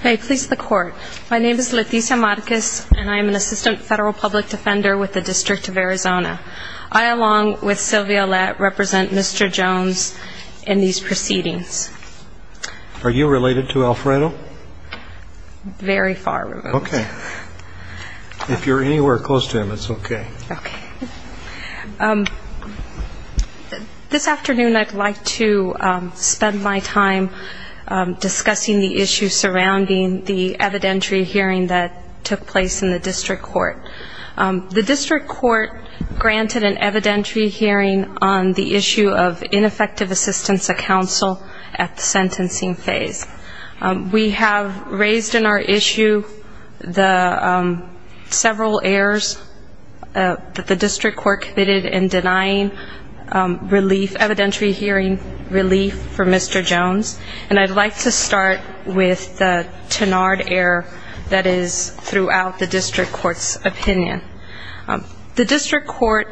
Hey, please the court. My name is Leticia Marquez, and I am an assistant federal public defender with the District of Arizona. I, along with Sylvia Lett, represent Mr. Jones in these proceedings. Are you related to Alfredo? Very far removed. Okay. If you're anywhere close to him, it's okay. This afternoon I'd like to spend my time discussing the issue surrounding the evidentiary hearing that took place in the district court. The district court granted an evidentiary hearing on the issue of ineffective assistance of counsel at the sentencing phase. We have raised in our issue the several errors that the district court committed in denying relief, evidentiary hearing relief for Mr. Jones. And I'd like to start with the Tenard error that is throughout the district court's opinion. The district court,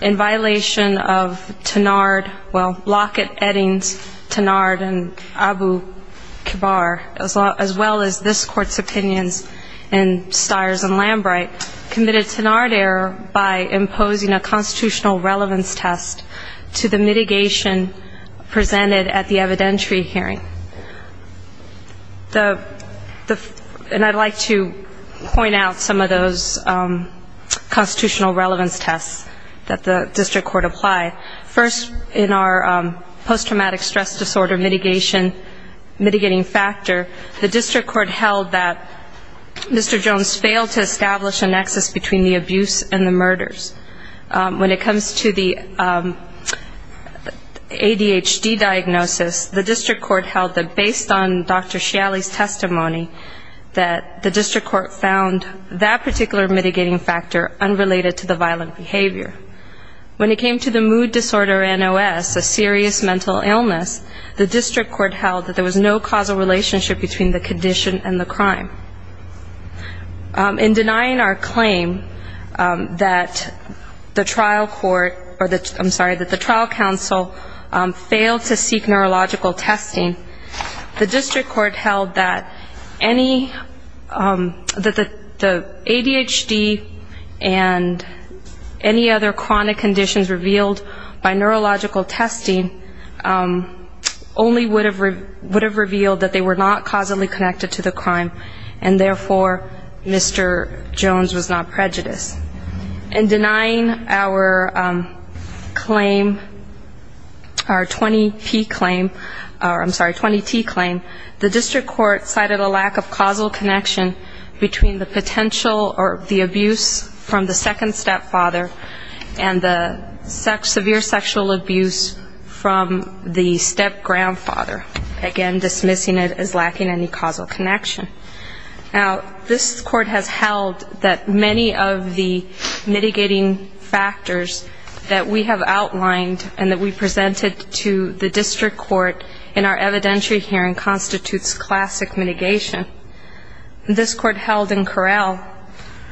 in violation of Tenard, well, Lockett, Eddings, Tenard, and Abu-Kabir, as well as this court's opinions in Stiers and Lambright, committed Tenard error by imposing a constitutional relevance test to the mitigation presented at the evidentiary hearing. And I'd like to point out some of those constitutional relevance tests that the district court applied. First, in our post-traumatic stress disorder mitigation, mitigating factor, the district court held that Mr. Jones failed to establish a nexus between the abuse and the murders. When it comes to the ADHD diagnosis, the district court held that based on Dr. Shealy's testimony, that the district court found that particular mitigating factor unrelated to the violent behavior. When it came to the mood disorder NOS, a serious mental illness, the district court held that there was no causal relationship between the condition and the crime. In denying our claim that the trial court, I'm sorry, that the trial counsel failed to seek neurological testing, the district court held that the ADHD and any other chronic conditions revealed by neurological testing only would have revealed that they were not causally connected to the crime. And therefore, Mr. Jones was not prejudiced. In denying our claim, our 20P claim, I'm sorry, 20T claim, the district court cited a lack of causal connection between the potential or the abuse from the second stepfather and the severe sexual abuse from the stepgrandfather. Again, dismissing it as lacking any causal connection. Now, this court has held that many of the mitigating factors that we have outlined and that we presented to the district court in our evidentiary hearing constitutes classic mitigation. This court held in corral,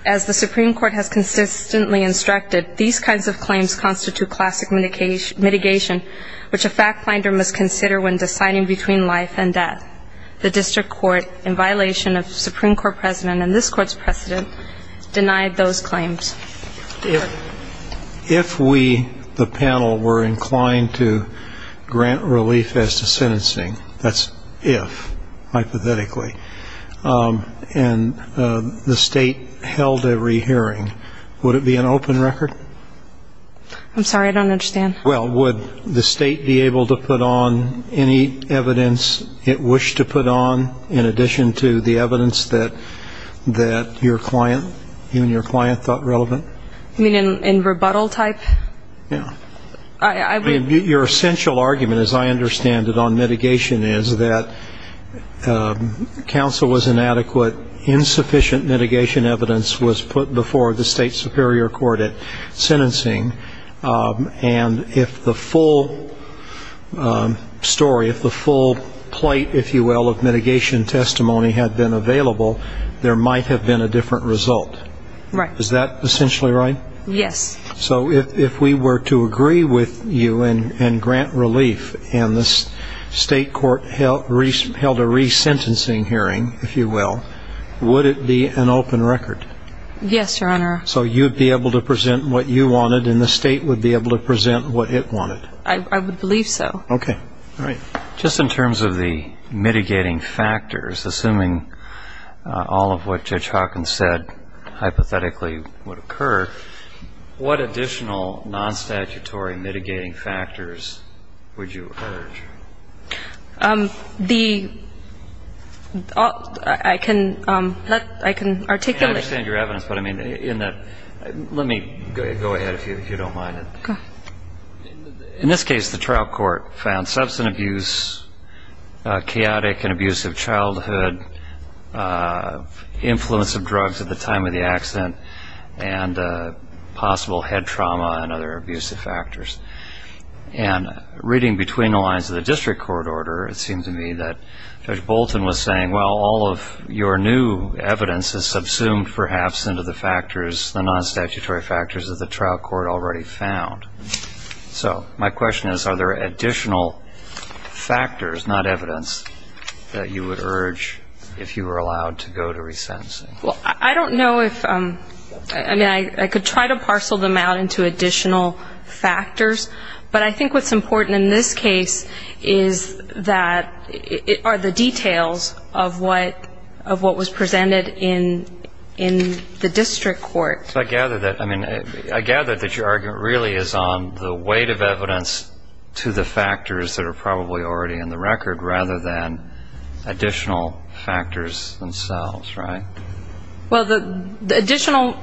as the Supreme Court has consistently instructed, these kinds of claims constitute classic mitigation, which a fact finder must consider when deciding between life and death. The district court, in violation of Supreme Court precedent and this court's precedent, denied those claims. If we, the panel, were inclined to grant relief as to sentencing, that's if, hypothetically, and the state held a rehearing, would it be an open record? I'm sorry, I don't understand. Well, would the state be able to put on any evidence it wished to put on, in addition to the evidence that your client, you and your client, thought relevant? You mean in rebuttal type? Yeah. Your essential argument, as I understand it, on mitigation is that counsel was inadequate, insufficient mitigation evidence was put before the state superior court at sentencing, and if the full story, if the full plate, if you will, of mitigation testimony had been available, there might have been a different result. Right. Is that essentially right? Yes. So if we were to agree with you and grant relief, and the state court held a resentencing hearing, if you will, would it be an open record? Yes, Your Honor. So you'd be able to present what you wanted, and the state would be able to present what it wanted? I would believe so. Okay. All right. Just in terms of the mitigating factors, assuming all of what Judge Hawkins said hypothetically would occur, what additional non-statutory mitigating factors would you urge? I can articulate. I understand your evidence, but, I mean, in that, let me go ahead if you don't mind. Go ahead. In this case, the trial court found substance abuse, chaotic and abusive childhood, influence of drugs at the time of the accident, and possible head trauma and other abusive factors. And reading between the lines of the district court order, it seemed to me that Judge Bolton was saying, well, all of your new evidence is subsumed, perhaps, into the factors, the non-statutory factors that the trial court already found. So my question is, are there additional factors, not evidence, that you would urge if you were allowed to go to resentencing? Well, I don't know if, I mean, I could try to parcel them out into additional factors, but I think what's important in this case is that are the details of what was presented in the district court. So I gather that, I mean, I gather that your argument really is on the weight of evidence to the factors that are probably already in the record rather than additional factors themselves, right? Well, the additional,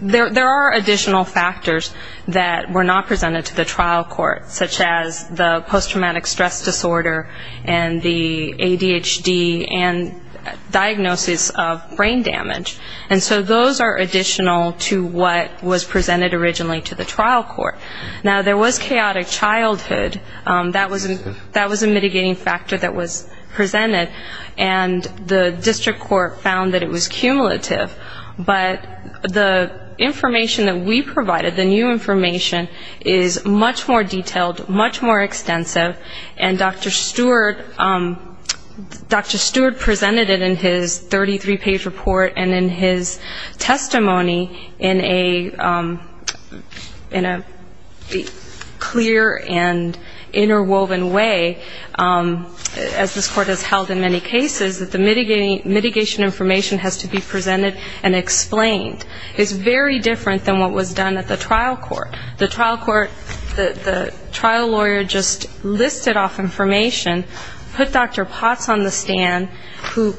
there are additional factors that were not presented to the trial court, such as the post-traumatic stress disorder and the ADHD and diagnosis of brain damage. And so those are additional to what was presented originally to the trial court. Now, there was chaotic childhood. That was a mitigating factor that was presented. And the district court found that it was cumulative. But the information that we provided, the new information, is much more detailed, much more extensive. And Dr. Stewart presented it in his 33-page report and in his testimony in a clear and interwoven way, as this court has held in many cases, that the mitigation information has to be presented and explained. It's very different than what was done at the trial court. The trial court, the trial lawyer just listed off information, put Dr. Potts on the stand, who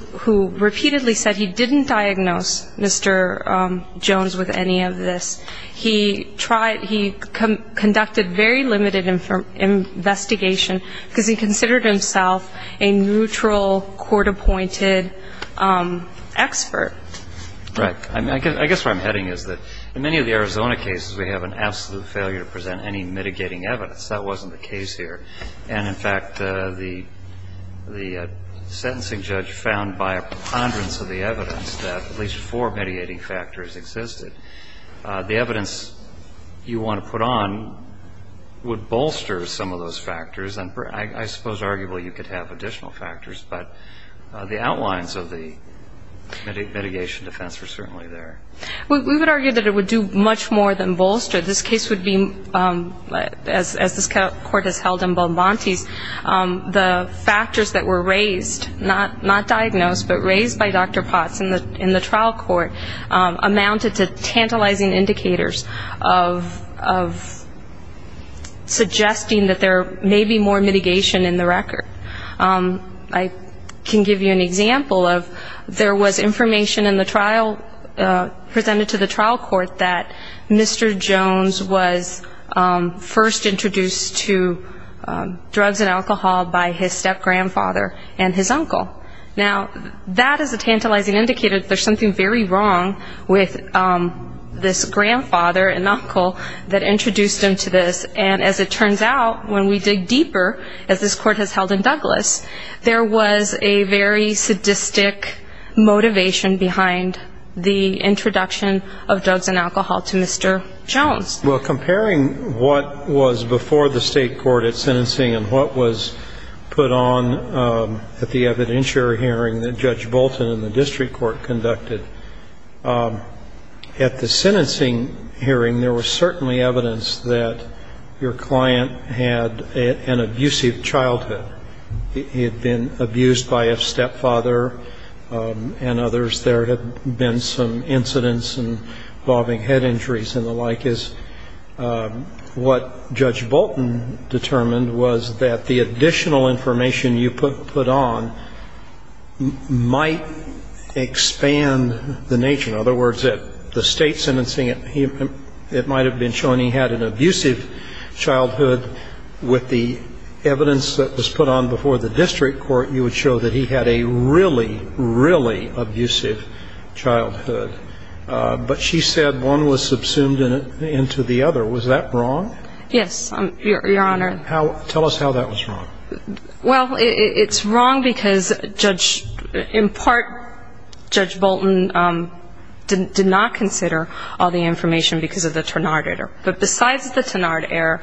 repeatedly said he didn't diagnose Mr. Jones with any of this. He conducted very limited investigation because he considered himself a neutral, court-appointed expert. Right. I guess where I'm heading is that in many of the Arizona cases, we have an absolute failure to present any mitigating evidence. That wasn't the case here. And, in fact, the sentencing judge found by a preponderance of the evidence that at least four mediating factors existed. The evidence you want to put on would bolster some of those factors, and I suppose arguably you could have additional factors, but the outlines of the mitigation defense were certainly there. We would argue that it would do much more than bolster. This case would be, as this court has held in Beaumonties, the factors that were raised, not diagnosed, but raised by Dr. Potts in the trial court amounted to tantalizing indicators of suggesting that there may be more mitigation in the record. I can give you an example of there was information in the trial, presented to the trial court, that Mr. Jones was first introduced to drugs and alcohol by his step-grandfather and his uncle. Now, that is a tantalizing indicator that there's something very wrong with this grandfather and uncle that introduced him to this. And, as it turns out, when we dig deeper, as this court has held in Douglas, there was a very sadistic motivation behind the introduction of drugs and alcohol to Mr. Jones. Well, comparing what was before the state court at sentencing and what was put on at the evidentiary hearing that Judge Bolton and the district court conducted, at the sentencing hearing there was certainly evidence that your client had an abusive childhood. He had been abused by a stepfather and others. There had been some incidents involving head injuries and the like. What Judge Bolton determined was that the additional information you put on might expand the nature. In other words, at the state sentencing, it might have been shown he had an abusive childhood. With the evidence that was put on before the district court, you would show that he had a really, really abusive childhood. But she said one was subsumed into the other. Was that wrong? Yes, Your Honor. Tell us how that was wrong. Well, it's wrong because, in part, Judge Bolton did not consider all the information because of the Ternard error. But besides the Ternard error,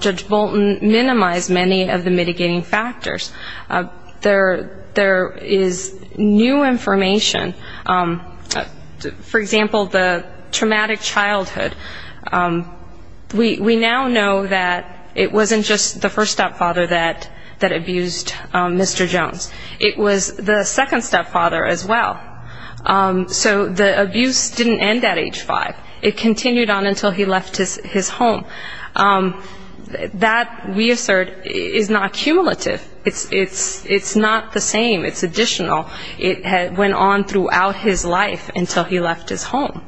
Judge Bolton minimized many of the mitigating factors. There is new information. For example, the traumatic childhood. We now know that it wasn't just the first stepfather that abused Mr. Jones. It was the second stepfather as well. So the abuse didn't end at age five. It continued on until he left his home. That, we assert, is not cumulative. It's not the same. It's additional. It went on throughout his life until he left his home.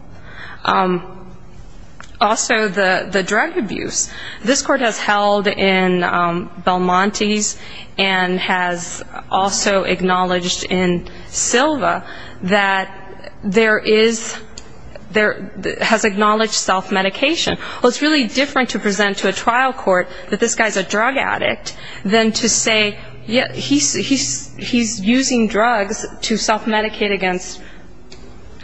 Also, the drug abuse. This court has held in Belmonte's and has also acknowledged in Silva that there is ‑‑ has acknowledged self-medication. Well, it's really different to present to a trial court that this guy is a drug addict than to say, he's using drugs to self-medicate against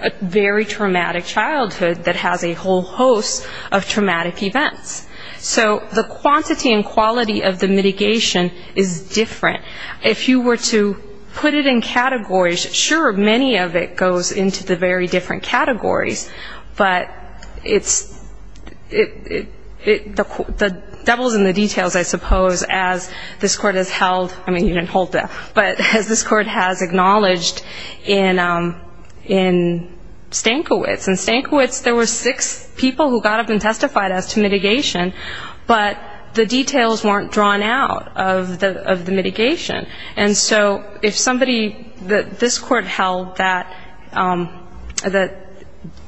a very traumatic childhood that has a whole host of traumatic events. So the quantity and quality of the mitigation is different. If you were to put it in categories, sure, many of it goes into the very different categories. But it's ‑‑ the devil's in the details, I suppose, as this court has held. I mean, you didn't hold that. But as this court has acknowledged in Stankiewicz. In Stankiewicz, there were six people who got up and testified as to mitigation, but the details weren't drawn out of the mitigation. And so if somebody ‑‑ this court held that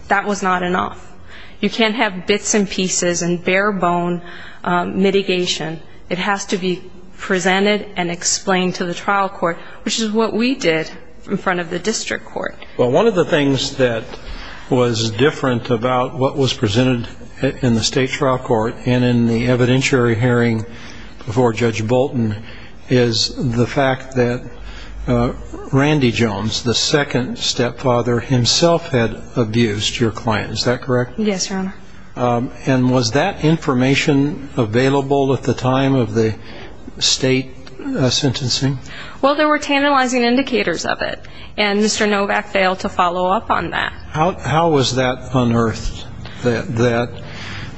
that was not enough. You can't have bits and pieces and bare bone mitigation. It has to be presented and explained to the trial court, which is what we did in front of the district court. Well, one of the things that was different about what was presented in the state trial court and in the evidentiary hearing before Judge Bolton is the fact that Randy Jones, the second stepfather, himself had abused your client. Is that correct? Yes, Your Honor. And was that information available at the time of the state sentencing? Well, there were tantalizing indicators of it, and Mr. Novak failed to follow up on that. How was that unearthed, that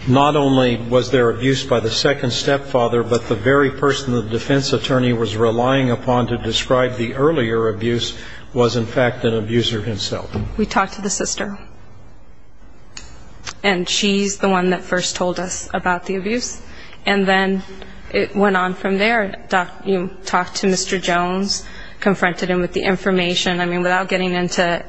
not only was there abuse by the second stepfather, but the very person the defense attorney was relying upon to describe the earlier abuse was in fact an abuser himself? We talked to the sister. And she's the one that first told us about the abuse. And then it went on from there. You talked to Mr. Jones, confronted him with the information. I mean, without getting into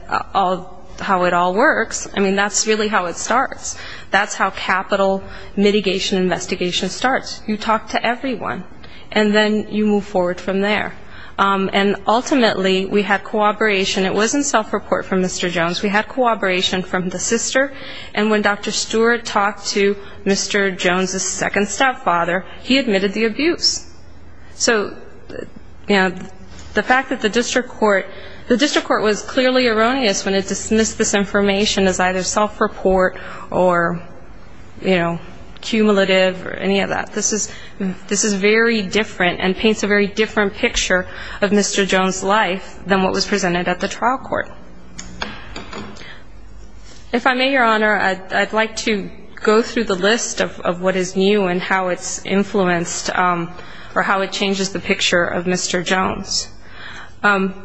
how it all works, I mean, that's really how it starts. That's how capital mitigation investigation starts. You talk to everyone, and then you move forward from there. And ultimately, we had cooperation. It wasn't self-report from Mr. Jones. We had cooperation from the sister. And when Dr. Stewart talked to Mr. Jones' second stepfather, he admitted the abuse. So, you know, the fact that the district court was clearly erroneous when it dismissed this information as either self-report or, you know, cumulative or any of that. This is very different and paints a very different picture of Mr. Jones' life than what was presented at the trial court. If I may, Your Honor, I'd like to go through the list of what is new and how it's influenced. Or how it changes the picture of Mr. Jones.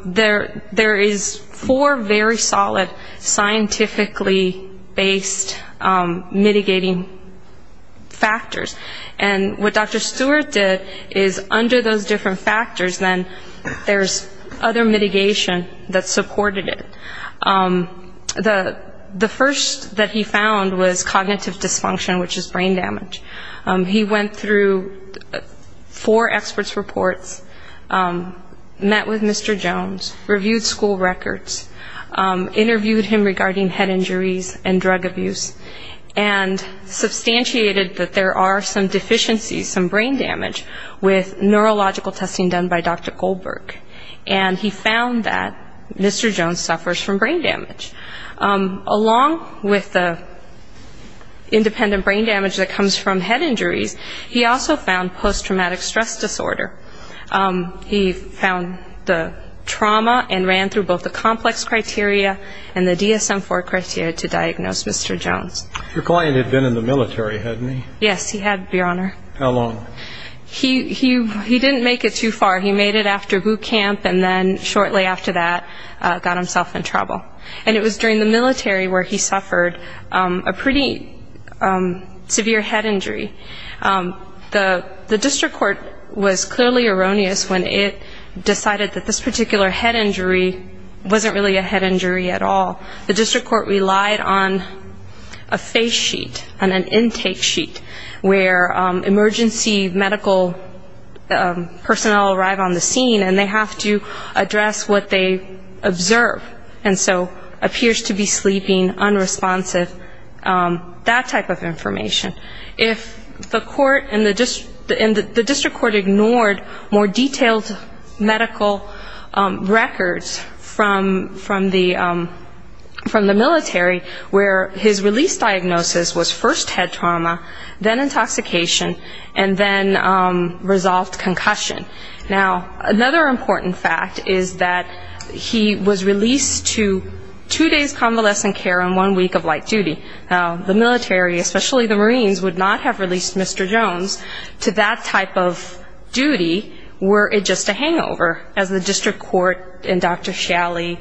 There is four very solid scientifically-based mitigating factors. And what Dr. Stewart did is under those different factors, then there's other mitigation that supported it. The first that he found was cognitive dysfunction, which is brain damage. He went through four experts' reports, met with Mr. Jones, reviewed school records, interviewed him regarding head injuries and drug abuse, and substantiated that there are some deficiencies, some brain damage, with neurological testing done by Dr. Goldberg. And he found that Mr. Jones suffers from brain damage. Along with the independent brain damage that comes from head injuries, he also found post-traumatic stress disorder. He found the trauma and ran through both the complex criteria and the DSM-IV criteria to diagnose Mr. Jones. Your client had been in the military, hadn't he? Yes, he had, Your Honor. How long? He didn't make it too far. He made it after boot camp and then shortly after that got himself in trouble. And it was during the military where he suffered a pretty severe head injury. The district court was clearly erroneous when it decided that this particular head injury wasn't really a head injury at all. The district court relied on a face sheet and an intake sheet where emergency medical personnel arrive on the scene and they have to address what they observe, and so appears to be sleeping, unresponsive, that type of information. If the court and the district court ignored more detailed medical records from the military where his release diagnosis was first head trauma, then intoxication, and then resolved concussion. Now, another important fact is that he was released to two days' convalescent care and one week of light duty. Now, the military, especially the Marines, would not have released Mr. Jones to that type of duty were it just a hangover, as the district court in Dr. Shalley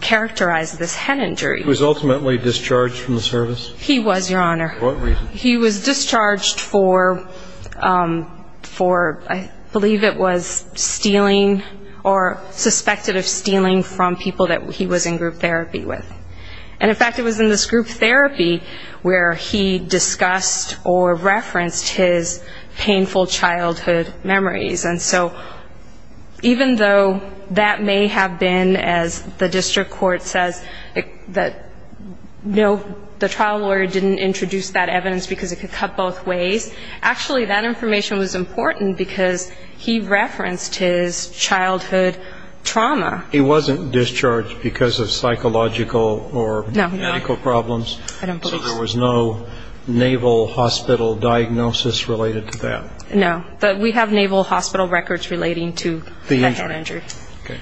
characterized this head injury. He was ultimately discharged from the service? He was, Your Honor. For what reason? He was discharged for, I believe it was stealing or suspected of stealing from people that he was in group therapy with. And, in fact, it was in this group therapy where he discussed or referenced his painful childhood memories. And so even though that may have been, as the district court says, that the trial lawyer didn't introduce that evidence because it could cut both ways, actually that information was important because he referenced his childhood trauma. He wasn't discharged because of psychological or medical problems? No. I don't believe so. So there was no naval hospital diagnosis related to that? No. But we have naval hospital records relating to the head injury.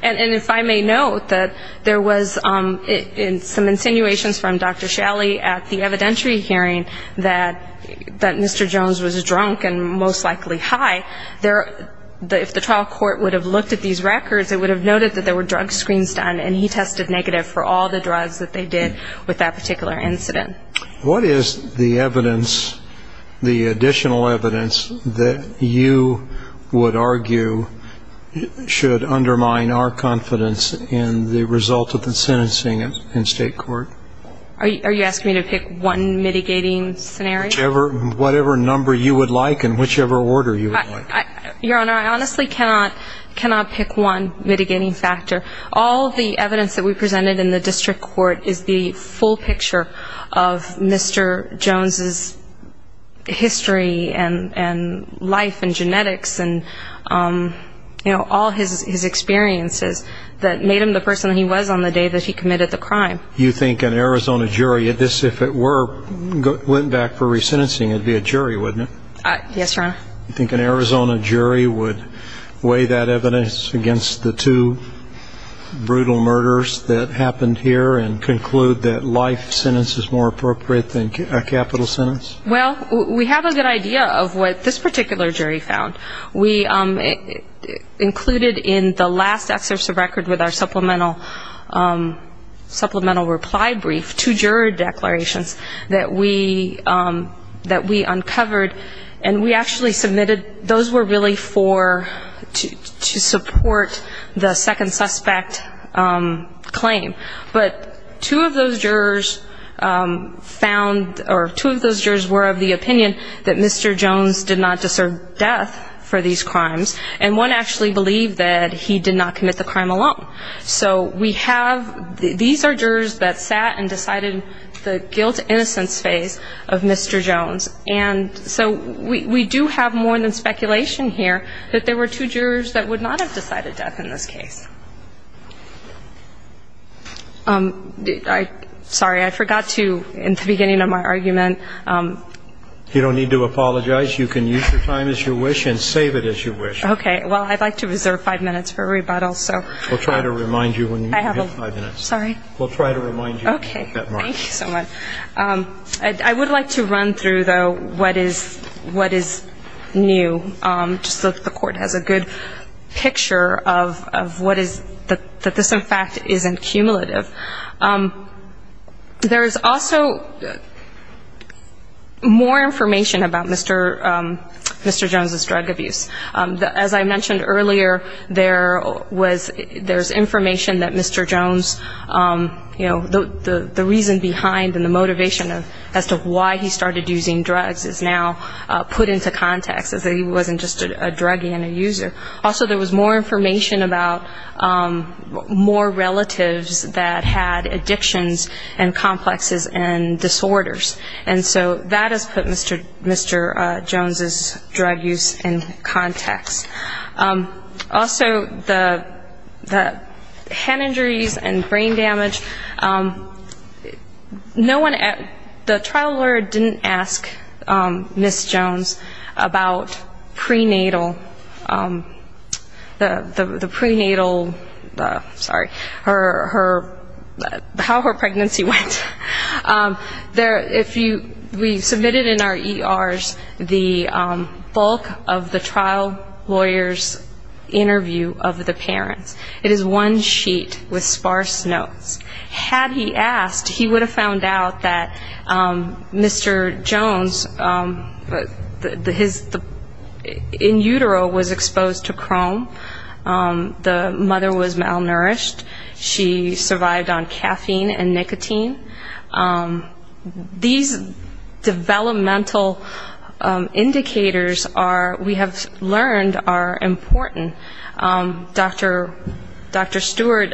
And if I may note that there was some insinuations from Dr. Shalley at the evidentiary hearing that Mr. Jones was drunk and most likely high, if the trial court would have looked at these records, it would have noted that there were drug screens done, and he tested negative for all the drugs that they did with that particular incident. What is the evidence, the additional evidence, that you would argue should undermine our confidence in the result of the sentencing in state court? Are you asking me to pick one mitigating scenario? Whichever, whatever number you would like and whichever order you would like. Your Honor, I honestly cannot pick one mitigating factor. All the evidence that we presented in the district court is the full picture of Mr. Jones' history and life and genetics and, you know, all his experiences that made him the person he was on the day that he committed the crime. You think an Arizona jury at this, if it were, went back for resentencing, it would be a jury, wouldn't it? Yes, Your Honor. You think an Arizona jury would weigh that evidence against the two brutal murders that happened here and conclude that life sentence is more appropriate than capital sentence? Well, we have a good idea of what this particular jury found. We included in the last excerpt of the record with our supplemental reply brief, two juror declarations that we uncovered and we actually submitted those were really for to support the second suspect claim. But two of those jurors found or two of those jurors were of the opinion that Mr. Jones did not deserve death for these crimes and one actually believed that he did not commit the crime alone. So we have, these are jurors that sat and decided the guilt innocence phase of Mr. Jones and so we do have more than speculation here that there were two jurors that would not have decided death in this case. Sorry, I forgot to, in the beginning of my argument. You don't need to apologize. You can use your time as you wish and save it as you wish. Okay. Well, I'd like to reserve five minutes for rebuttal, so. We'll try to remind you when you have five minutes. Sorry. We'll try to remind you. Okay. Thank you so much. I would like to run through, though, what is new just so that the court has a good picture of what is, that this in fact isn't cumulative. There is also more information about Mr. Jones' drug abuse. As I mentioned earlier, there was, there's information that Mr. Jones, you know, the reason behind and the motivation as to why he started using drugs is now put into context as he wasn't just a druggie and a user. Also, there was more information about more relatives that had addictions and complexes and disorders. And so that has put Mr. Jones' drug use in context. Also, the hand injuries and brain damage, no one at, the trial lawyer didn't ask Ms. Jones about prenatal, the prenatal, sorry, her, how her pregnancy went. There, if you, we submitted in our ERs the bulk of the trial lawyer's interview of the parents. It is one sheet with sparse notes. Had he asked, he would have found out that Mr. Jones, his, in utero was exposed to chrome, the mother was malnourished, she survived on caffeine and nicotine. These developmental indicators are, we have learned, are important. Dr. Stewart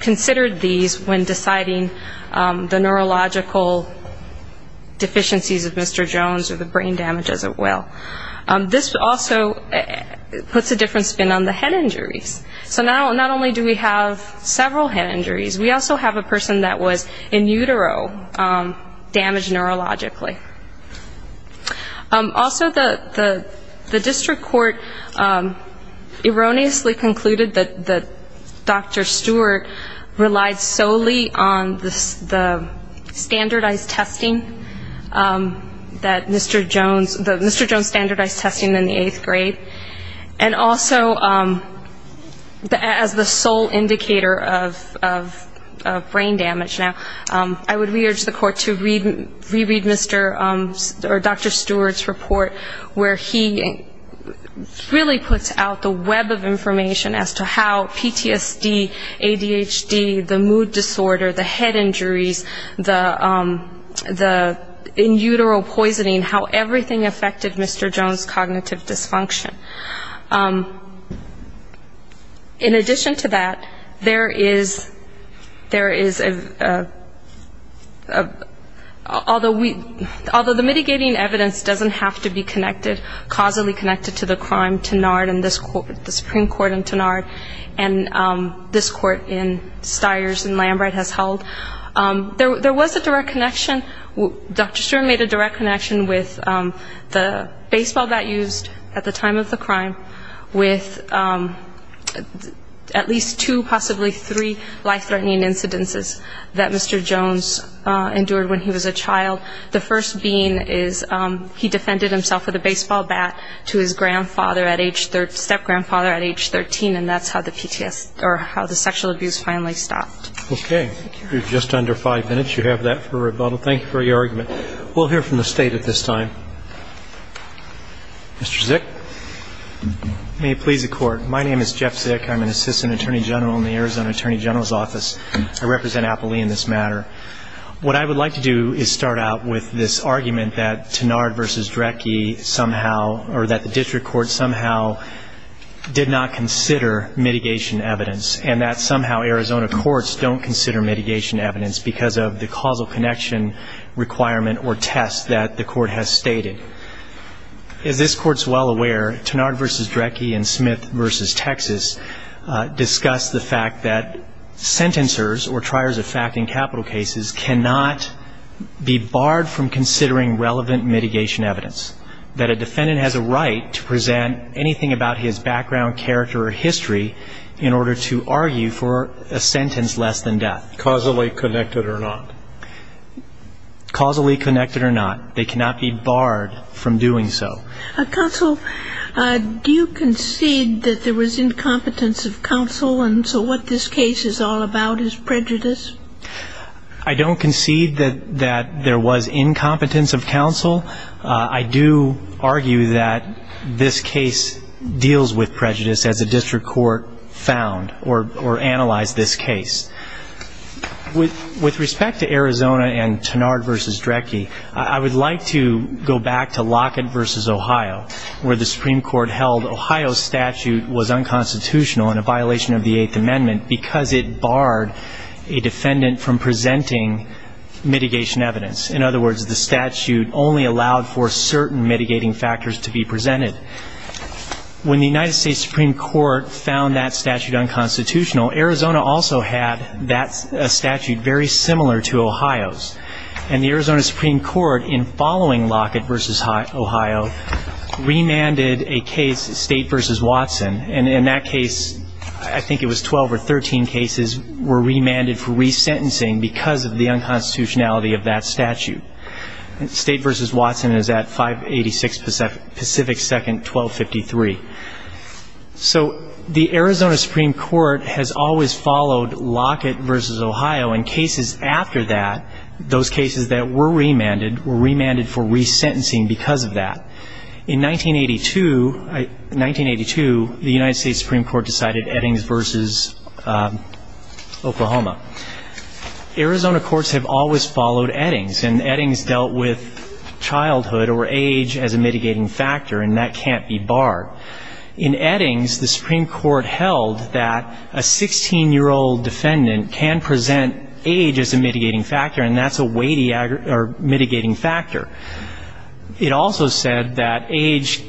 considered these when deciding the neurological deficiencies of Mr. Jones or the brain damage as well. This also puts a different spin on the head injuries. So not only do we have several head injuries, we also have a person that was in utero damaged neurologically. Also, the district court erroneously concluded that Dr. Stewart relied solely on the standardized testing that Mr. Jones, that Mr. Jones standardized testing in the eighth grade. And also, as the sole indicator of brain damage now, I would re-urge the court to re-read Mr. or Dr. Stewart's report where he really puts out the web of information as to how PTSD, ADHD, the mood disorder, the head injuries, the in utero poisoning, how everything affected Mr. Jones' cognitive dysfunction. In addition to that, there is, there is a, although we, although the mitigating evidence doesn't have to be connected, causally connected to the crime Tenard and this court, the Supreme Court in Tenard, and this court in Stiers and Lambright has held, there was a direct connection. Dr. Stewart made a direct connection with the baseball bat used at the time of the crime with at least two, possibly three life-threatening incidences that Mr. Jones endured when he was a child. The first being is he defended himself with a baseball bat to his grandfather at age, step-grandfather at age 13, and that's how the PTSD, or how the sexual abuse finally stopped. Okay. You're just under five minutes. You have that for rebuttal. Thank you for your argument. We'll hear from the State at this time. Mr. Zick. May it please the Court. My name is Jeff Zick. I'm an Assistant Attorney General in the Arizona Attorney General's Office. I represent Appalachia in this matter. What I would like to do is start out with this argument that Tenard v. Drecke somehow, or that the district court somehow did not consider mitigation evidence, and that somehow Arizona courts don't consider mitigation evidence. Because of the causal connection requirement or test that the court has stated. As this Court's well aware, Tenard v. Drecke and Smith v. Texas discuss the fact that sentencers, or triers of fact in capital cases, cannot be barred from considering relevant mitigation evidence. That a defendant has a right to present anything about his background, character, or history in order to argue for a sentence less than death. Causally connected or not. Causally connected or not. They cannot be barred from doing so. Counsel, do you concede that there was incompetence of counsel, and so what this case is all about is prejudice? I don't concede that there was incompetence of counsel. I do argue that this case deals with prejudice. As a district court found or analyzed this case. With respect to Arizona and Tenard v. Drecke, I would like to go back to Lockett v. Ohio, where the Supreme Court held Ohio's statute was unconstitutional and a violation of the Eighth Amendment because it barred a defendant from presenting mitigation evidence. In other words, the statute only allowed for certain mitigating factors to be presented. When the United States Supreme Court found that statute unconstitutional, Arizona also had that statute very similar to Ohio's. And the Arizona Supreme Court, in following Lockett v. Ohio, remanded a case, State v. Watson, and in that case, I think it was 12 or 13 cases were remanded for resentencing because of the unconstitutionality of that statute. State v. Watson is at 586 Pacific Second Amendment. Lockett v. Ohio is at 582 Pacific Second, 1253. So the Arizona Supreme Court has always followed Lockett v. Ohio, and cases after that, those cases that were remanded were remanded for resentencing because of that. In 1982, the United States Supreme Court decided Eddings v. Oklahoma. Arizona courts have always followed Eddings, and Eddings dealt with age as a mitigating factor, and that's a weighty or mitigating factor. It also said that age,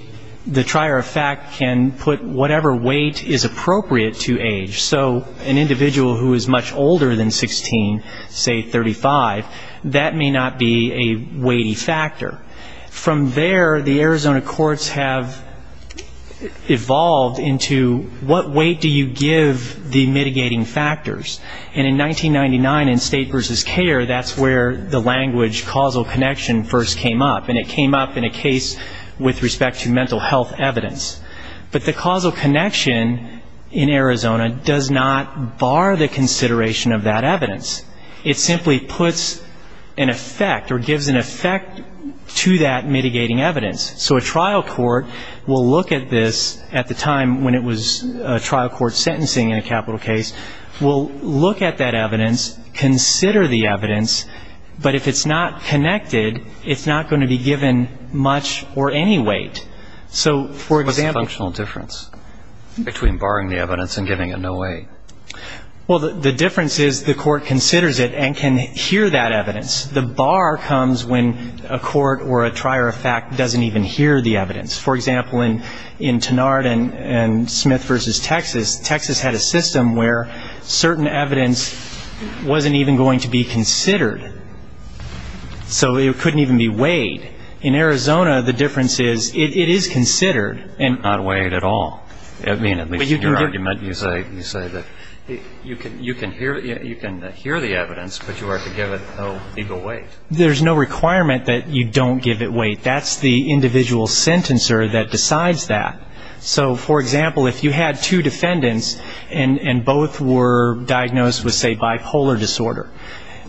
the trier of fact, can put whatever weight is appropriate to age. So an individual who is much older than 16, say 35, that may not be a weighty factor. From there, the Arizona courts have evolved into what weight do you give the mitigating factors? And in 1999, in State v. CARE, that's where the language causal connection first came up, and it came up in a case with respect to mental health evidence. But the causal connection in Arizona does not bar the consideration of that evidence. It simply puts an effect or gives an effect to that evidence. So the court will look at this at the time when it was trial court sentencing in a capital case, will look at that evidence, consider the evidence, but if it's not connected, it's not going to be given much or any weight. So, for example --"What's the functional difference between barring the evidence and giving it no weight?" Well, the difference is the court considers it and can hear that evidence. The bar comes when a court or a trier of fact doesn't even hear the evidence. For example, in Tenard and Smith v. Texas, Texas had a system where certain evidence wasn't even going to be considered. So it couldn't even be weighed. In Arizona, the difference is it is considered. Not weighed at all. I mean, at least in your argument, you say that you can hear the evidence, but you are to give it no legal weight. There's no requirement that you don't give it weight. That's the individual sentencer that decides that. So, for example, if you had two defendants and both were diagnosed with, say, bipolar disorder,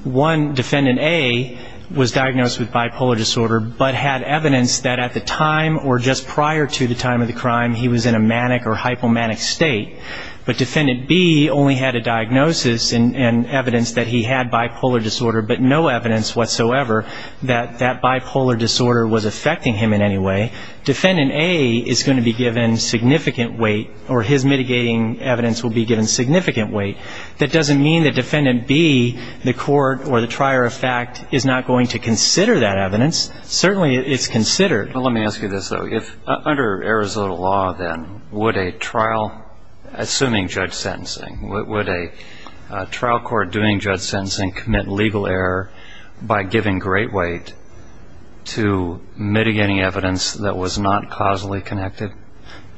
one defendant A was diagnosed with bipolar disorder but had evidence that at the time or just prior to the time of the crime he was in a manic or hypomanic state, but defendant B only had a diagnosis and evidence that he had bipolar disorder but no evidence whatsoever that he was in a manic or hypomanic state, but no evidence whatsoever that that bipolar disorder was affecting him in any way, defendant A is going to be given significant weight or his mitigating evidence will be given significant weight. That doesn't mean that defendant B, the court or the trier of fact, is not going to consider that evidence. Certainly it's considered. Let me ask you this, though. Under Arizona law, then, would a trial, assuming judge sentencing, would a trial court doing judge giving great weight to mitigating evidence that was not causally connected?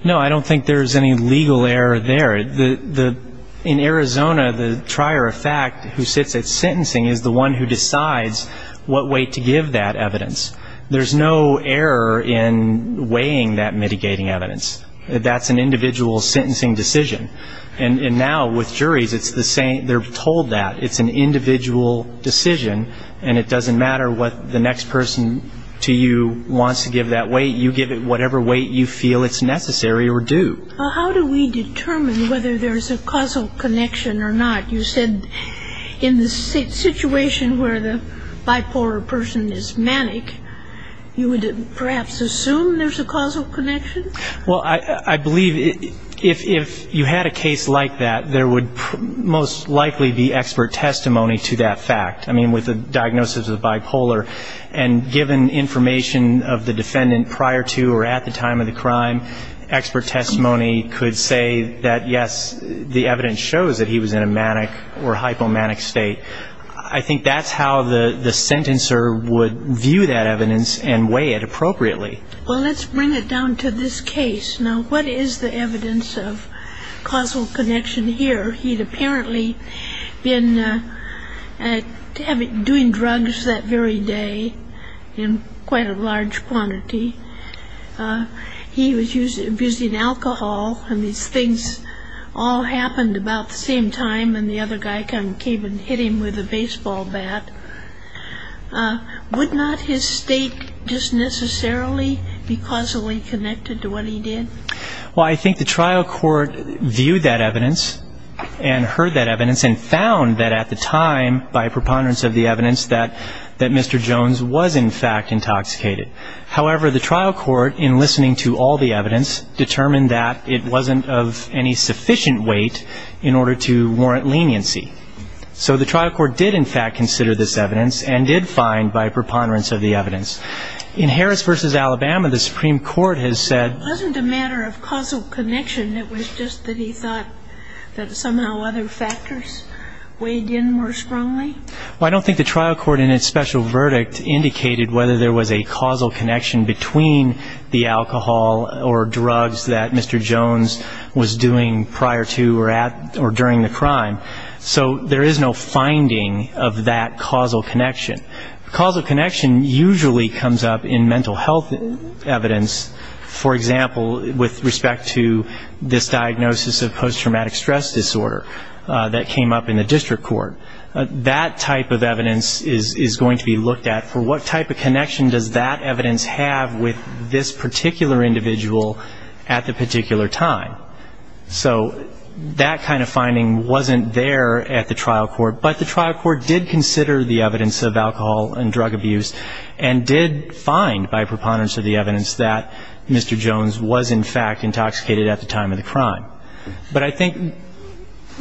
No, I don't think there's any legal error there. In Arizona, the trier of fact who sits at sentencing is the one who decides what weight to give that evidence. There's no error in weighing that mitigating evidence. That's an individual sentencing decision. And now with the next person to you wants to give that weight, you give it whatever weight you feel it's necessary or due. Well, how do we determine whether there's a causal connection or not? You said in the situation where the bipolar person is manic, you would perhaps assume there's a causal connection? Well, I believe if you had a case like that, there would most likely be expert testimony to that fact. I mean, with a diagnosis of bipolar, and given information of the defendant prior to or at the time of the crime, expert testimony could say that, yes, the evidence shows that he was in a manic or hypomanic state. I think that's how the sentencer would view that evidence and weigh it appropriately. Well, let's bring it down to this case. Now, what is the evidence of causal connection here? He'd apparently been doing drugs that he was using every day in quite a large quantity. He was using alcohol, and these things all happened about the same time, and the other guy came and hit him with a baseball bat. Would not his state just necessarily be causally connected to what he did? Well, I think the trial court viewed that evidence and heard that evidence and found that at the time, by preponderance of the evidence, Mr. Jones was, in fact, intoxicated. However, the trial court, in listening to all the evidence, determined that it wasn't of any sufficient weight in order to warrant leniency. So the trial court did, in fact, consider this evidence and did find, by preponderance of the evidence. In Harris v. Alabama, the Supreme Court has said... Wasn't a matter of causal connection? It was just that he thought that somehow other factors weighed in more strongly? Well, I don't think the trial court, in its special verdict, indicated whether there was a causal connection between the alcohol or drugs that Mr. Jones was doing prior to or during the crime. So there is no finding of that causal connection. Causal connection usually comes up in mental health evidence. For example, with respect to this diagnosis of post-traumatic stress disorder that came up in the district court, that type of evidence is going to be looked at for what type of connection does that evidence have with this particular individual at the particular time. So that kind of finding wasn't there at the trial court, but the trial court did consider the evidence of alcohol and drug abuse and did find, by preponderance of the evidence, that Mr. Jones was, in fact, intoxicated at the time of the crime. But I think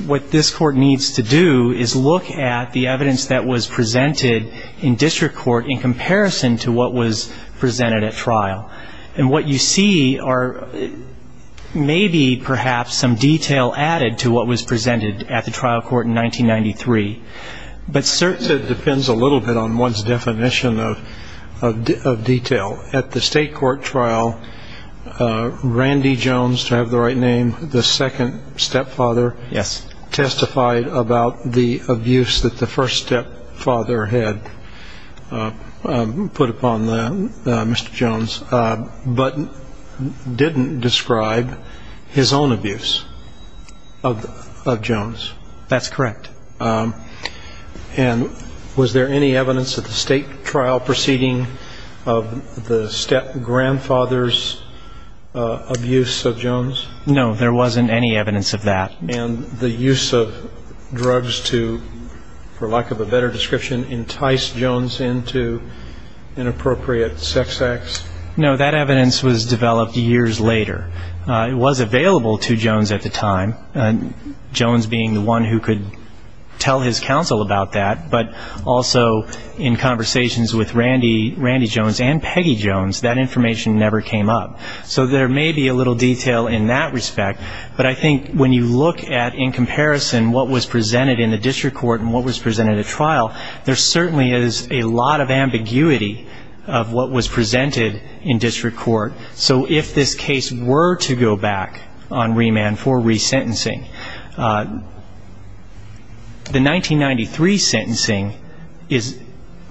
what this court needs to do is look at the evidence that was presented in district court in comparison to what was presented at trial. And what you see are maybe, perhaps, some detail added to what was presented at the trial court in 1993. But certainly... The second stepfather testified about the abuse that the first stepfather had put upon Mr. Jones, but didn't describe his own abuse of Jones. That's correct. And was there any evidence at the state trial proceeding of the stepgrandfather's abuse of Jones? No, there wasn't any evidence of that. And the use of drugs to, for lack of a better description, entice Jones into inappropriate sex acts? No, that evidence was developed years later. It was available to Jones at the time, Jones being the one who could tell his counsel about that, but also in conversations with Randy Jones and Peggy Jones, that information never came up. So there may be a little detail in that respect. But I think when you look at, in comparison, what was presented in the district court and what was presented at trial, there certainly is a lot of ambiguity of what was presented in district court. So if this case were to go back on remand for resentencing, the 1993 sentencing is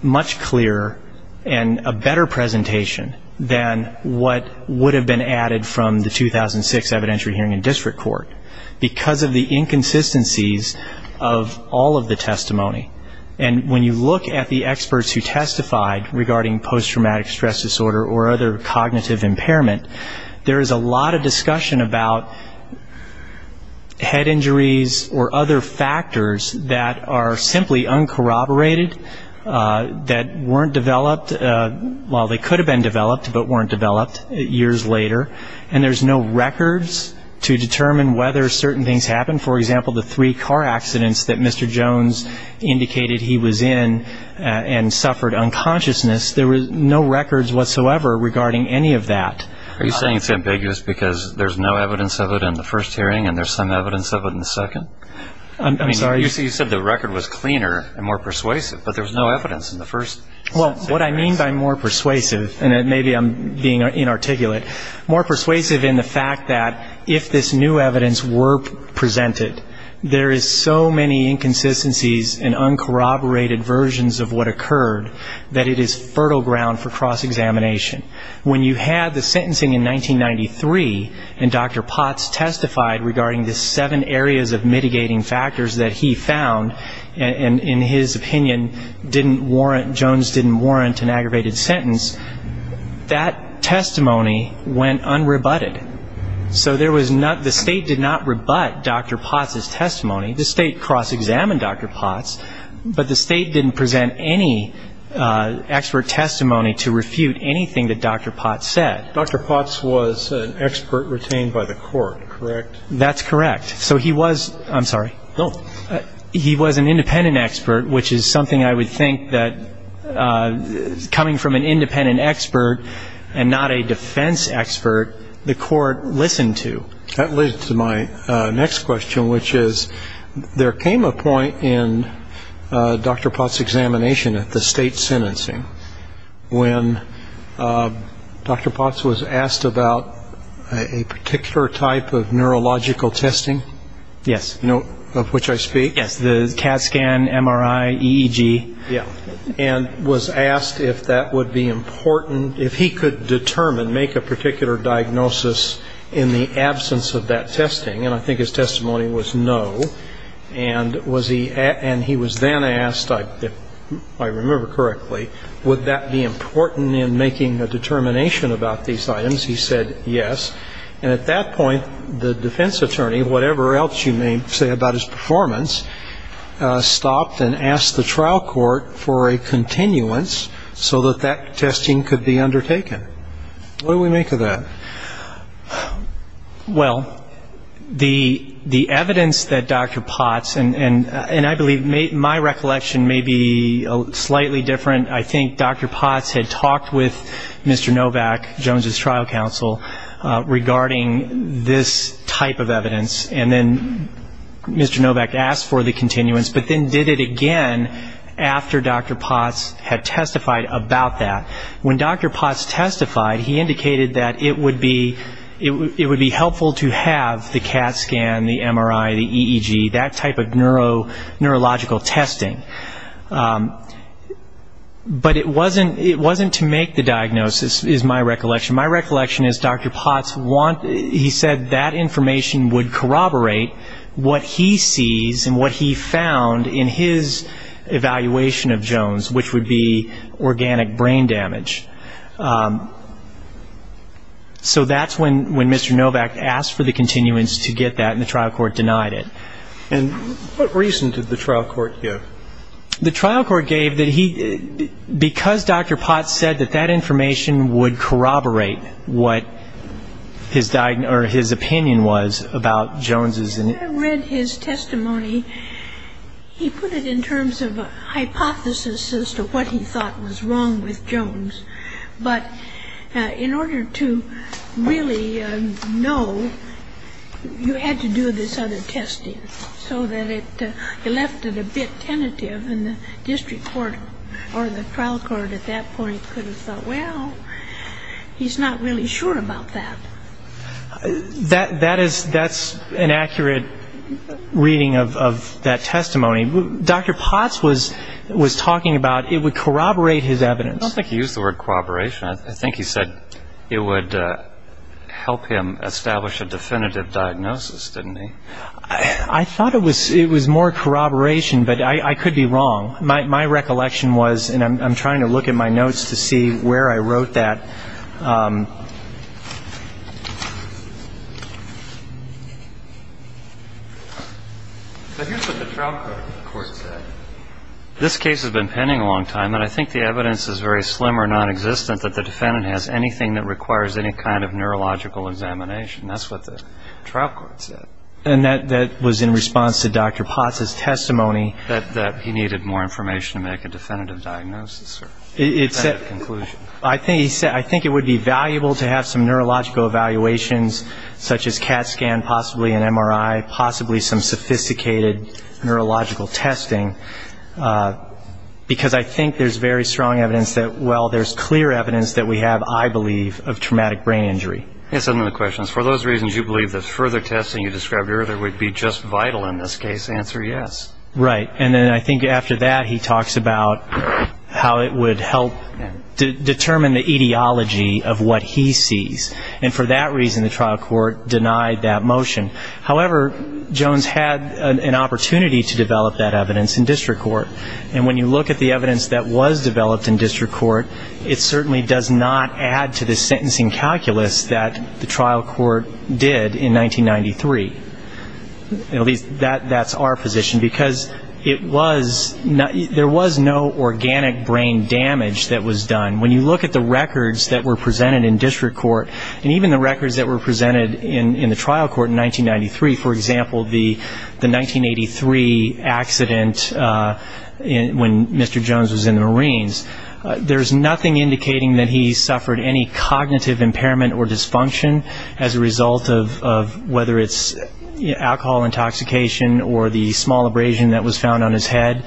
much clearer and a better presentation than what was presented at trial. And that would have been added from the 2006 evidentiary hearing in district court, because of the inconsistencies of all of the testimony. And when you look at the experts who testified regarding post-traumatic stress disorder or other cognitive impairment, there is a lot of discussion about head injuries or other factors that are simply uncorroborated, that weren't developed, well, they could have been and there's no records to determine whether certain things happened. For example, the three car accidents that Mr. Jones indicated he was in and suffered unconsciousness, there was no records whatsoever regarding any of that. Are you saying it's ambiguous because there's no evidence of it in the first hearing and there's some evidence of it in the second? I mean, you said the record was cleaner and more persuasive, but there's no evidence in the first. Well, what I mean by more persuasive, and maybe I'm being inarticulate, more persuasive in the fact that if this new evidence were presented, there is so many inconsistencies and uncorroborated versions of what occurred that it is fertile ground for cross-examination. When you had the sentencing in 1993 and Dr. Potts testified regarding the seven areas of mitigating factors that he found, and in his opinion, Jones didn't warrant an aggravated sentence, that testimony went unrebutted. So the state did not rebut Dr. Potts' testimony. The state cross-examined Dr. Potts, but the state didn't present any expert testimony to refute anything that Dr. Potts said. Dr. Potts was an expert retained by the court, correct? That's correct. So he was an independent expert, which is something I would think that coming from an independent expert and not a defense expert, the court listened to. That leads to my next question, which is there came a point in Dr. Potts' examination at the state sentencing when Dr. Potts was asked about a particular type of neurological testing, of which I speak. Yes, the CAT scan, MRI, EEG. And was asked if that would be important, if he could determine, make a particular diagnosis in the absence of that testing. And I think his testimony was no. And he was then asked, if I remember correctly, would that be important in making a determination about these items? He said yes. And at that point, the defense attorney, whatever else you may say about his performance, stopped and asked the trial court for a continuance so that that testing could be undertaken. What do we make of that? Well, the evidence that Dr. Potts, and I believe my recollection may be slightly different. I think Dr. Potts had talked with Mr. Novak, Jones' trial counsel, regarding this type of evidence. And then Mr. Novak asked for the continuance, but then did it again after Dr. Potts had testified about that. When Dr. Potts testified, he indicated that it would be helpful to have the CAT scan, the MRI, the EEG, that type of neurological testing. But it wasn't to make the diagnosis, is my recollection. My recollection is Dr. Potts, he said that information would corroborate what he sees and what he found in his evaluation of Jones, which would be organic brain damage. So that's when Mr. Novak asked for the continuance to get that, and the trial court denied it. And what reason did the trial court give? The trial court gave that because Dr. Potts said that that information would corroborate what his opinion was about Jones' I read his testimony. He put it in terms of a hypothesis as to what he thought was wrong with Jones. But in order to really know, you had to do this other testing. So that it left it a bit tentative, and the district court or the trial court at that point could have thought, well, he's not really sure about that. That's an accurate reading of that testimony. Dr. Potts was talking about it would corroborate his evidence. I don't think he used the word corroboration. I think he said it would help him establish a definitive diagnosis, didn't he? I thought it was more corroboration, but I could be wrong. My recollection was, and I'm trying to look at my notes to see where I wrote that. This case has been pending a long time, and I think the evidence is very slim or nonexistent that the defendant has anything that requires any kind of neurological examination. That's what the trial court said. And that was in response to Dr. Potts' testimony. That he needed more information to make a definitive diagnosis or definitive conclusion. I think he said, I think it would be valuable to have some neurological evaluations, such as CAT scan, possibly an MRI, possibly some sophisticated neurological testing, because I think there's very strong evidence that, well, there's clear evidence that we have, I believe, of traumatic brain injury. That's another question. For those reasons you believe that further testing you described earlier would be just vital in this case, answer yes. Right. And then I think after that he talks about how it would help determine the etiology of what he sees. And for that reason, the trial court denied that motion. And I think there's an opportunity to develop that evidence in district court. And when you look at the evidence that was developed in district court, it certainly does not add to the sentencing calculus that the trial court did in 1993. At least that's our position. Because it was not, there was no organic brain damage that was done. When you look at the records that were presented in district court, and even the records that were presented in the trial court in 1993, for example, the 1983 trial where there was a brain injury accident when Mr. Jones was in the Marines, there's nothing indicating that he suffered any cognitive impairment or dysfunction as a result of whether it's alcohol intoxication or the small abrasion that was found on his head.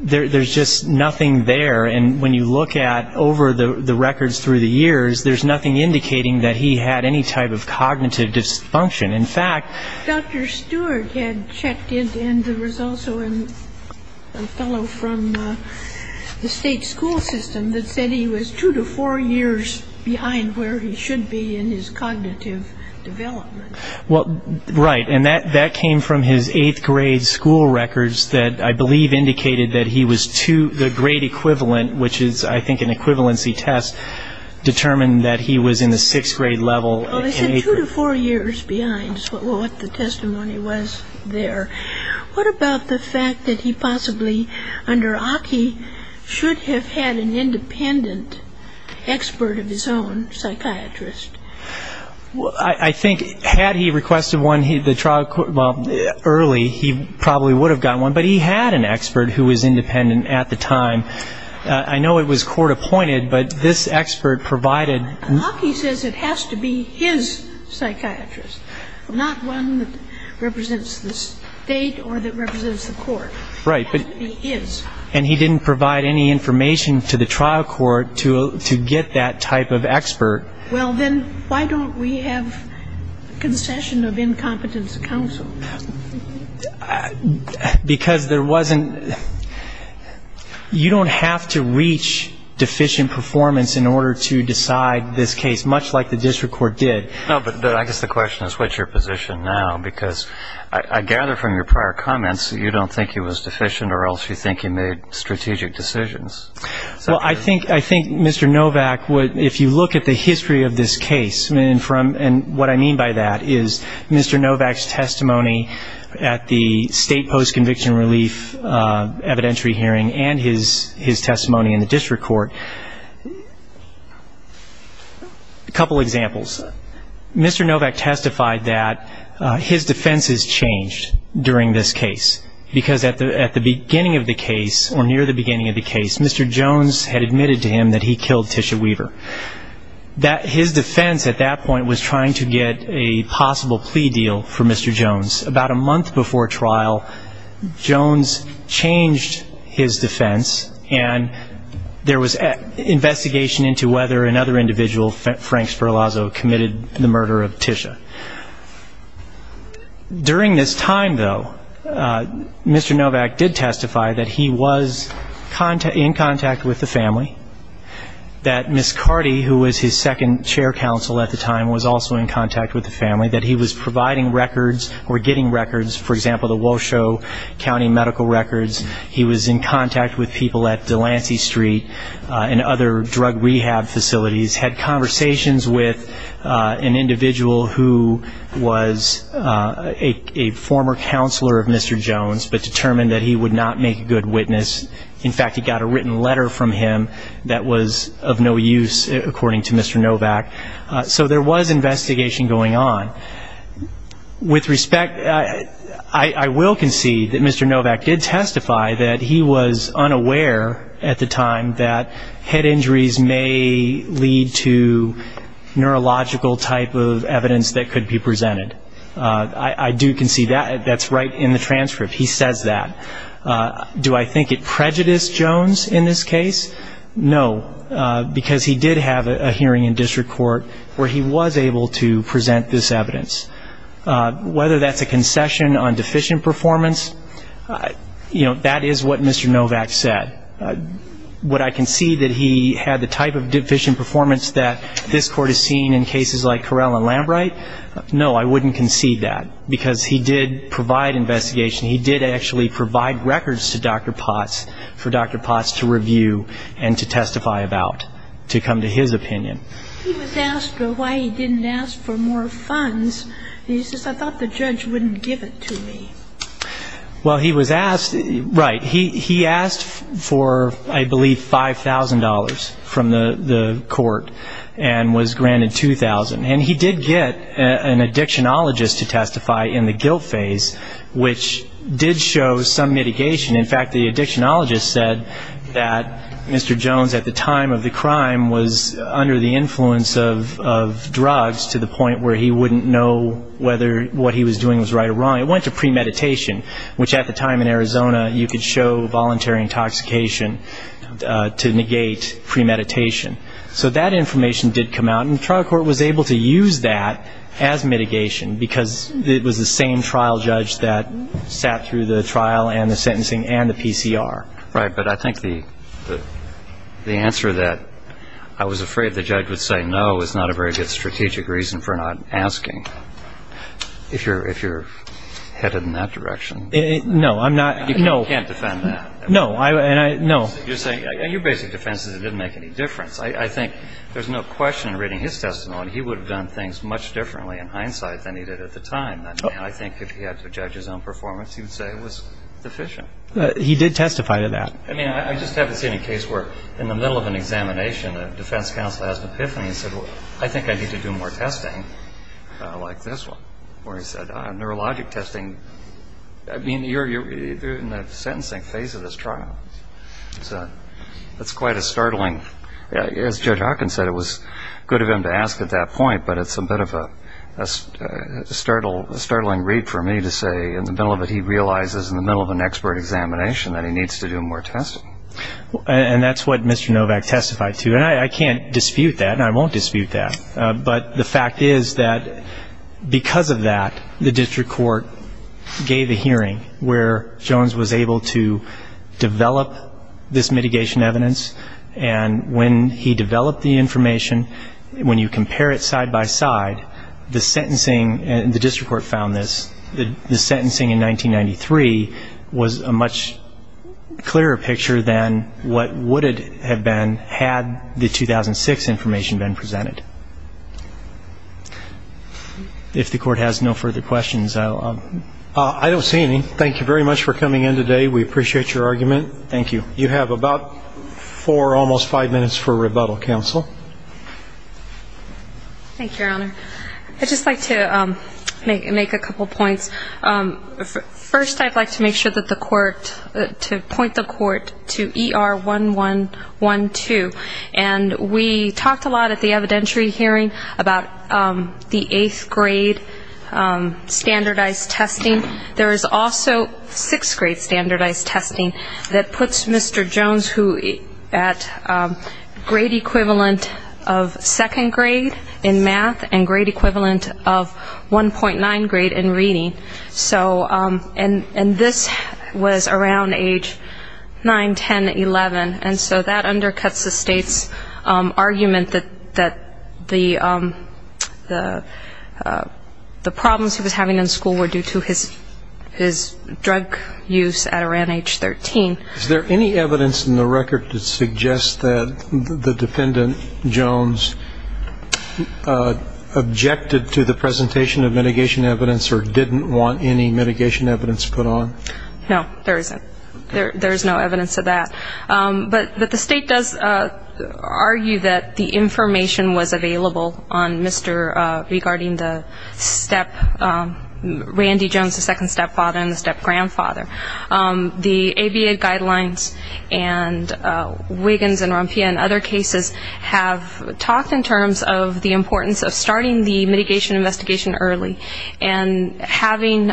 There's just nothing there. And when you look at over the records through the years, there's nothing indicating that he had any type of cognitive dysfunction. In fact Dr. Stewart had checked in and there was also a fellow from the state school system that said he was two to four years behind where he should be in his cognitive development. Well, right. And that came from his eighth grade school records that I believe indicated that he was two, the grade equivalent, which is I think an equivalency test, determined that he was in the sixth grade level. Well, they said two to four years behind is what the testimony was there. What about the fact that he possibly, under Aki, should have had an independent expert of his own, psychiatrist? Well, I think had he requested one, the trial court, well, early, he probably would have gotten one. But he had an expert who was independent at the time. I know it was court-appointed, but this expert provided... Aki says it has to be his psychiatrist, not one that represents the state or that represents the court. Right. It has to be his. And he didn't provide any information to the trial court to get that type of expert. Well, then why don't we have concession of incompetence counsel? Because there wasn't you don't have to reach deficient performance in order to decide this case, much like the district court did. No, but I guess the question is what's your position now? Because I gather from your prior comments you don't think he was deficient or else you think he made strategic decisions. Well, I think Mr. Novak, if you look at the history of this case, and what I mean by that is Mr. Novak's testimony at the state post-conviction relief evidentiary hearing and his testimony in the district court, a couple examples. Mr. Novak testified that his defense has changed during this case. Because at the beginning of the case or near the beginning of the case, Mr. Jones had admitted to him that he killed Tisha Weaver. His defense at that point was trying to get a possible plea deal for Mr. Jones. About a month before trial, Jones changed his defense, and there was investigation into whether another individual, Frank Sperlazzo, committed the murder of Tisha. Mr. Novak did testify that he was in contact with the family. That Ms. Carty, who was his second chair counsel at the time, was also in contact with the family. That he was providing records or getting records, for example, the Washoe County medical records. He was in contact with people at Delancey Street and other drug rehab facilities. Had conversations with an individual who was a former counselor of Mr. Jones. But determined that he would not make a good witness. In fact, he got a written letter from him that was of no use, according to Mr. Novak. So there was investigation going on. With respect, I will concede that Mr. Novak did testify that he was unaware at the time that head injuries may lead to neurological type of evidence that could be presented. I do concede that. That's right in the transcript. He says that. Do I think it prejudiced Jones in this case? No, because he did have a hearing in district court where he was able to present this evidence. Whether that's a concession on deficient performance, you know, that is what Mr. Novak said. Would I concede that he had the type of deficient performance that this court has seen in cases like Correll and Lambright? No, I wouldn't concede that, because he did provide investigation. He did actually provide records to Dr. Potts for Dr. Potts to review and to testify about, to come to his opinion. He was asked why he didn't ask for more funds, and he says, I thought the judge wouldn't give it to me. Well, he was asked, right. He asked for, I believe, $5,000 from the court and was granted $2,000. And he did get an addictionologist to testify in the guilt phase, which did show some mitigation. In fact, the addictionologist said that Mr. Jones, at the time of the crime, was under the influence of drugs to the point where he wouldn't know whether what he was doing was right or wrong. It went to premeditation, which at the time in Arizona, you could show voluntary intoxication to negate premeditation. So that information did come out, and the trial court was able to use that as mitigation, because it was the same trial judge that sat through the trial and the sentencing and the PCR. Right, but I think the answer that I was afraid the judge would say no is not a very good strategic reason for not asking, if you're headed in that direction. No, I'm not. You can't defend that. No. And your basic defense is it didn't make any difference. I think there's no question in reading his testimony, he would have done things much differently in hindsight than he did at the time. I mean, I think if he had to judge his own performance, he would say it was deficient. He did testify to that. I mean, I just haven't seen a case where in the middle of an examination, the defense counsel has an epiphany and said, well, I think I need to do more testing, like this one, where he said neurologic testing. I mean, you're in the sentencing phase of this trial. That's quite a startling, as Judge Hawkins said, it was good of him to ask at that point, but it's a bit of a startling read for me to say in the middle of it, he realizes in the middle of an expert examination that he needs to do more testing. And that's what Mr. Novak testified to. And I can't dispute that, and I won't dispute that, but the fact is that because of that, the district court gave a hearing where Jones was able to develop this mitigation evidence, and when he developed the information, when you compare it side by side, the sentencing, and the district court found this, the sentencing in 1993 was a much clearer picture than what would have been had the 2006 information been presented. If the court has no further questions, I'll... I don't see any. Thank you very much for coming in today. We appreciate your argument. Thank you. You have about four, almost five minutes for rebuttal, counsel. Thank you, Your Honor. I'd just like to make a couple points. First, I'd like to make sure that the court, to point the court to ER1112, and we talked a lot at the evidentiary hearing about the eighth grade standardized testing. There is also sixth grade standardized testing that puts Mr. Jones, who at grade equivalent of second grade in math and grade equivalent of 1.9 grade in reading, and this was around age 9, 10, 11, and so that undercuts the state's argument that the problems he was having in school were due to his drug use at around age 13. Is there any evidence in the record that suggests that the defendant, Jones, objected to the presentation of mitigation evidence or didn't want any mitigation evidence put on? No, there isn't. There is no evidence of that. But the state does argue that the information was available on Mr. regarding the step, Randy Jones, the second stepfather and the stepgrandfather. The ABA guidelines and Wiggins and Rompia and other cases have talked in terms of the importance of starting the mitigation investigation early and having,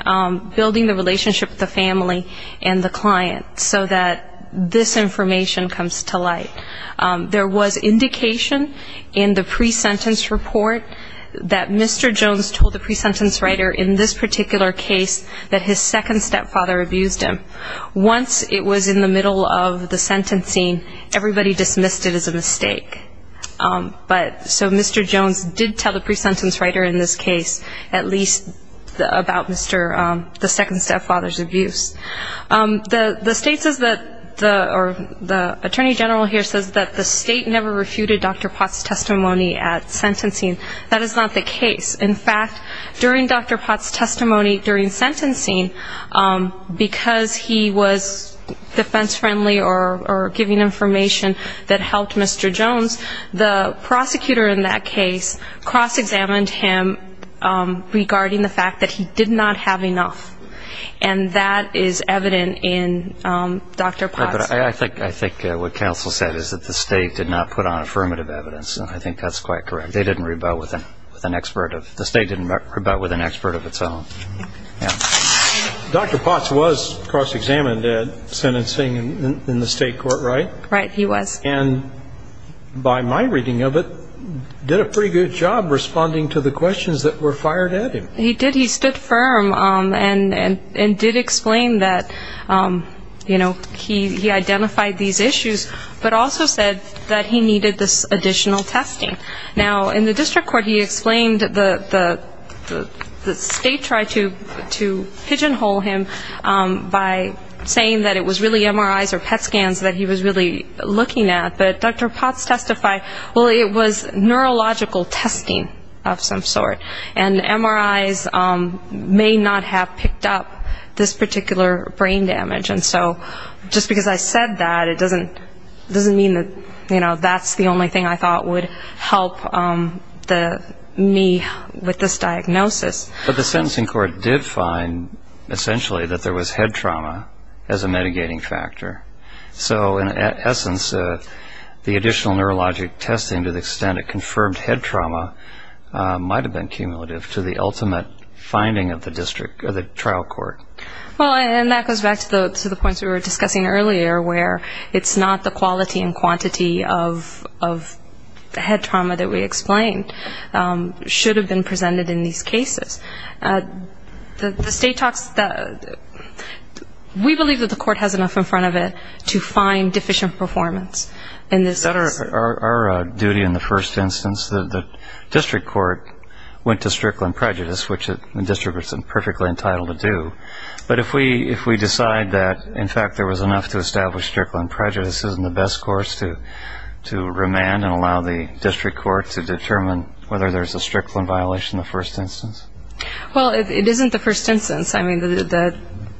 building the relationship with the family and the client so that this information comes to light. There was indication in the pre-sentence report that Mr. Jones told the pre-sentence writer in this particular case that his second stepfather abused him. Once it was in the middle of the sentencing, everybody dismissed it as a mistake. So Mr. Jones did tell the pre-sentence writer in this case at least about the second stepfather's abuse. The attorney general here says that the state never refuted Dr. Potts' testimony at sentencing. That is not the case. In fact, during Dr. Potts' testimony during sentencing, because he was defense-friendly or giving information that helped Mr. Jones, the prosecutor in that case cross-examined him regarding the fact that he did not have enough. I think what counsel said is that the state did not put on affirmative evidence, and I think that's quite correct. They didn't rebut with an expert. The state didn't rebut with an expert of its own. Dr. Potts was cross-examined at sentencing in the state court, right? Right, he was. And by my reading of it, did a pretty good job responding to the questions that were fired at him. He did, he stood firm and did explain that, you know, he identified these issues, but also said that he needed this additional testing. Now, in the district court he explained the state tried to pigeonhole him by saying that it was really MRIs or PET scans that he was really looking at, but Dr. Potts testified, well, it was neurological testing of some sort. And MRIs may not have picked up this particular brain damage. And so just because I said that, it doesn't mean that, you know, that's the only thing I thought would help me with this diagnosis. But the sentencing court did find essentially that there was head trauma as a mitigating factor. So in essence, the additional neurologic testing to the extent it confirmed head trauma might have been cumulative to the ultimate finding of the trial court. Well, and that goes back to the points we were discussing earlier where it's not the quality and quantity of head trauma that we explained should have been presented in these cases. The state talks that we believe that the court has enough in front of it to find deficient performance in this case. Is that our duty in the first instance, that the district court went to strickland prejudice, which the district court is perfectly entitled to do, but if we decide that, in fact, there was enough to establish strickland prejudice, isn't the best course to remand and allow the district court to determine whether there's a strickland violation in the first instance? Well, it isn't the first instance. I mean, the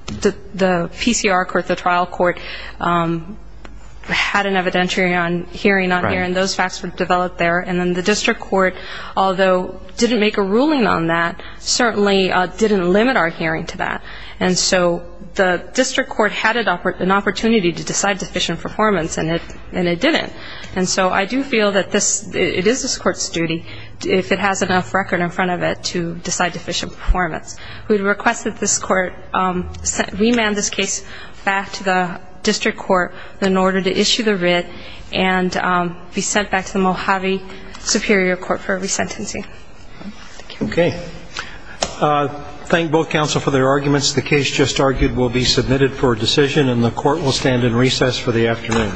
PCR court, the trial court, had an evidentiary hearing on here, and those facts were developed there. And then the district court, although didn't make a ruling on that, certainly didn't limit our hearing to that. And so the district court had an opportunity to decide deficient performance, and it didn't. And so I do feel that it is this court's duty, if it has enough record in front of it, to decide deficient performance. We request that this court remand this case back to the district court in order to issue the writ and be sent back to the Mojave Superior Court for resentencing. Okay. Thank both counsel for their arguments. The case just argued will be submitted for decision, and the court will stand in recess for the afternoon.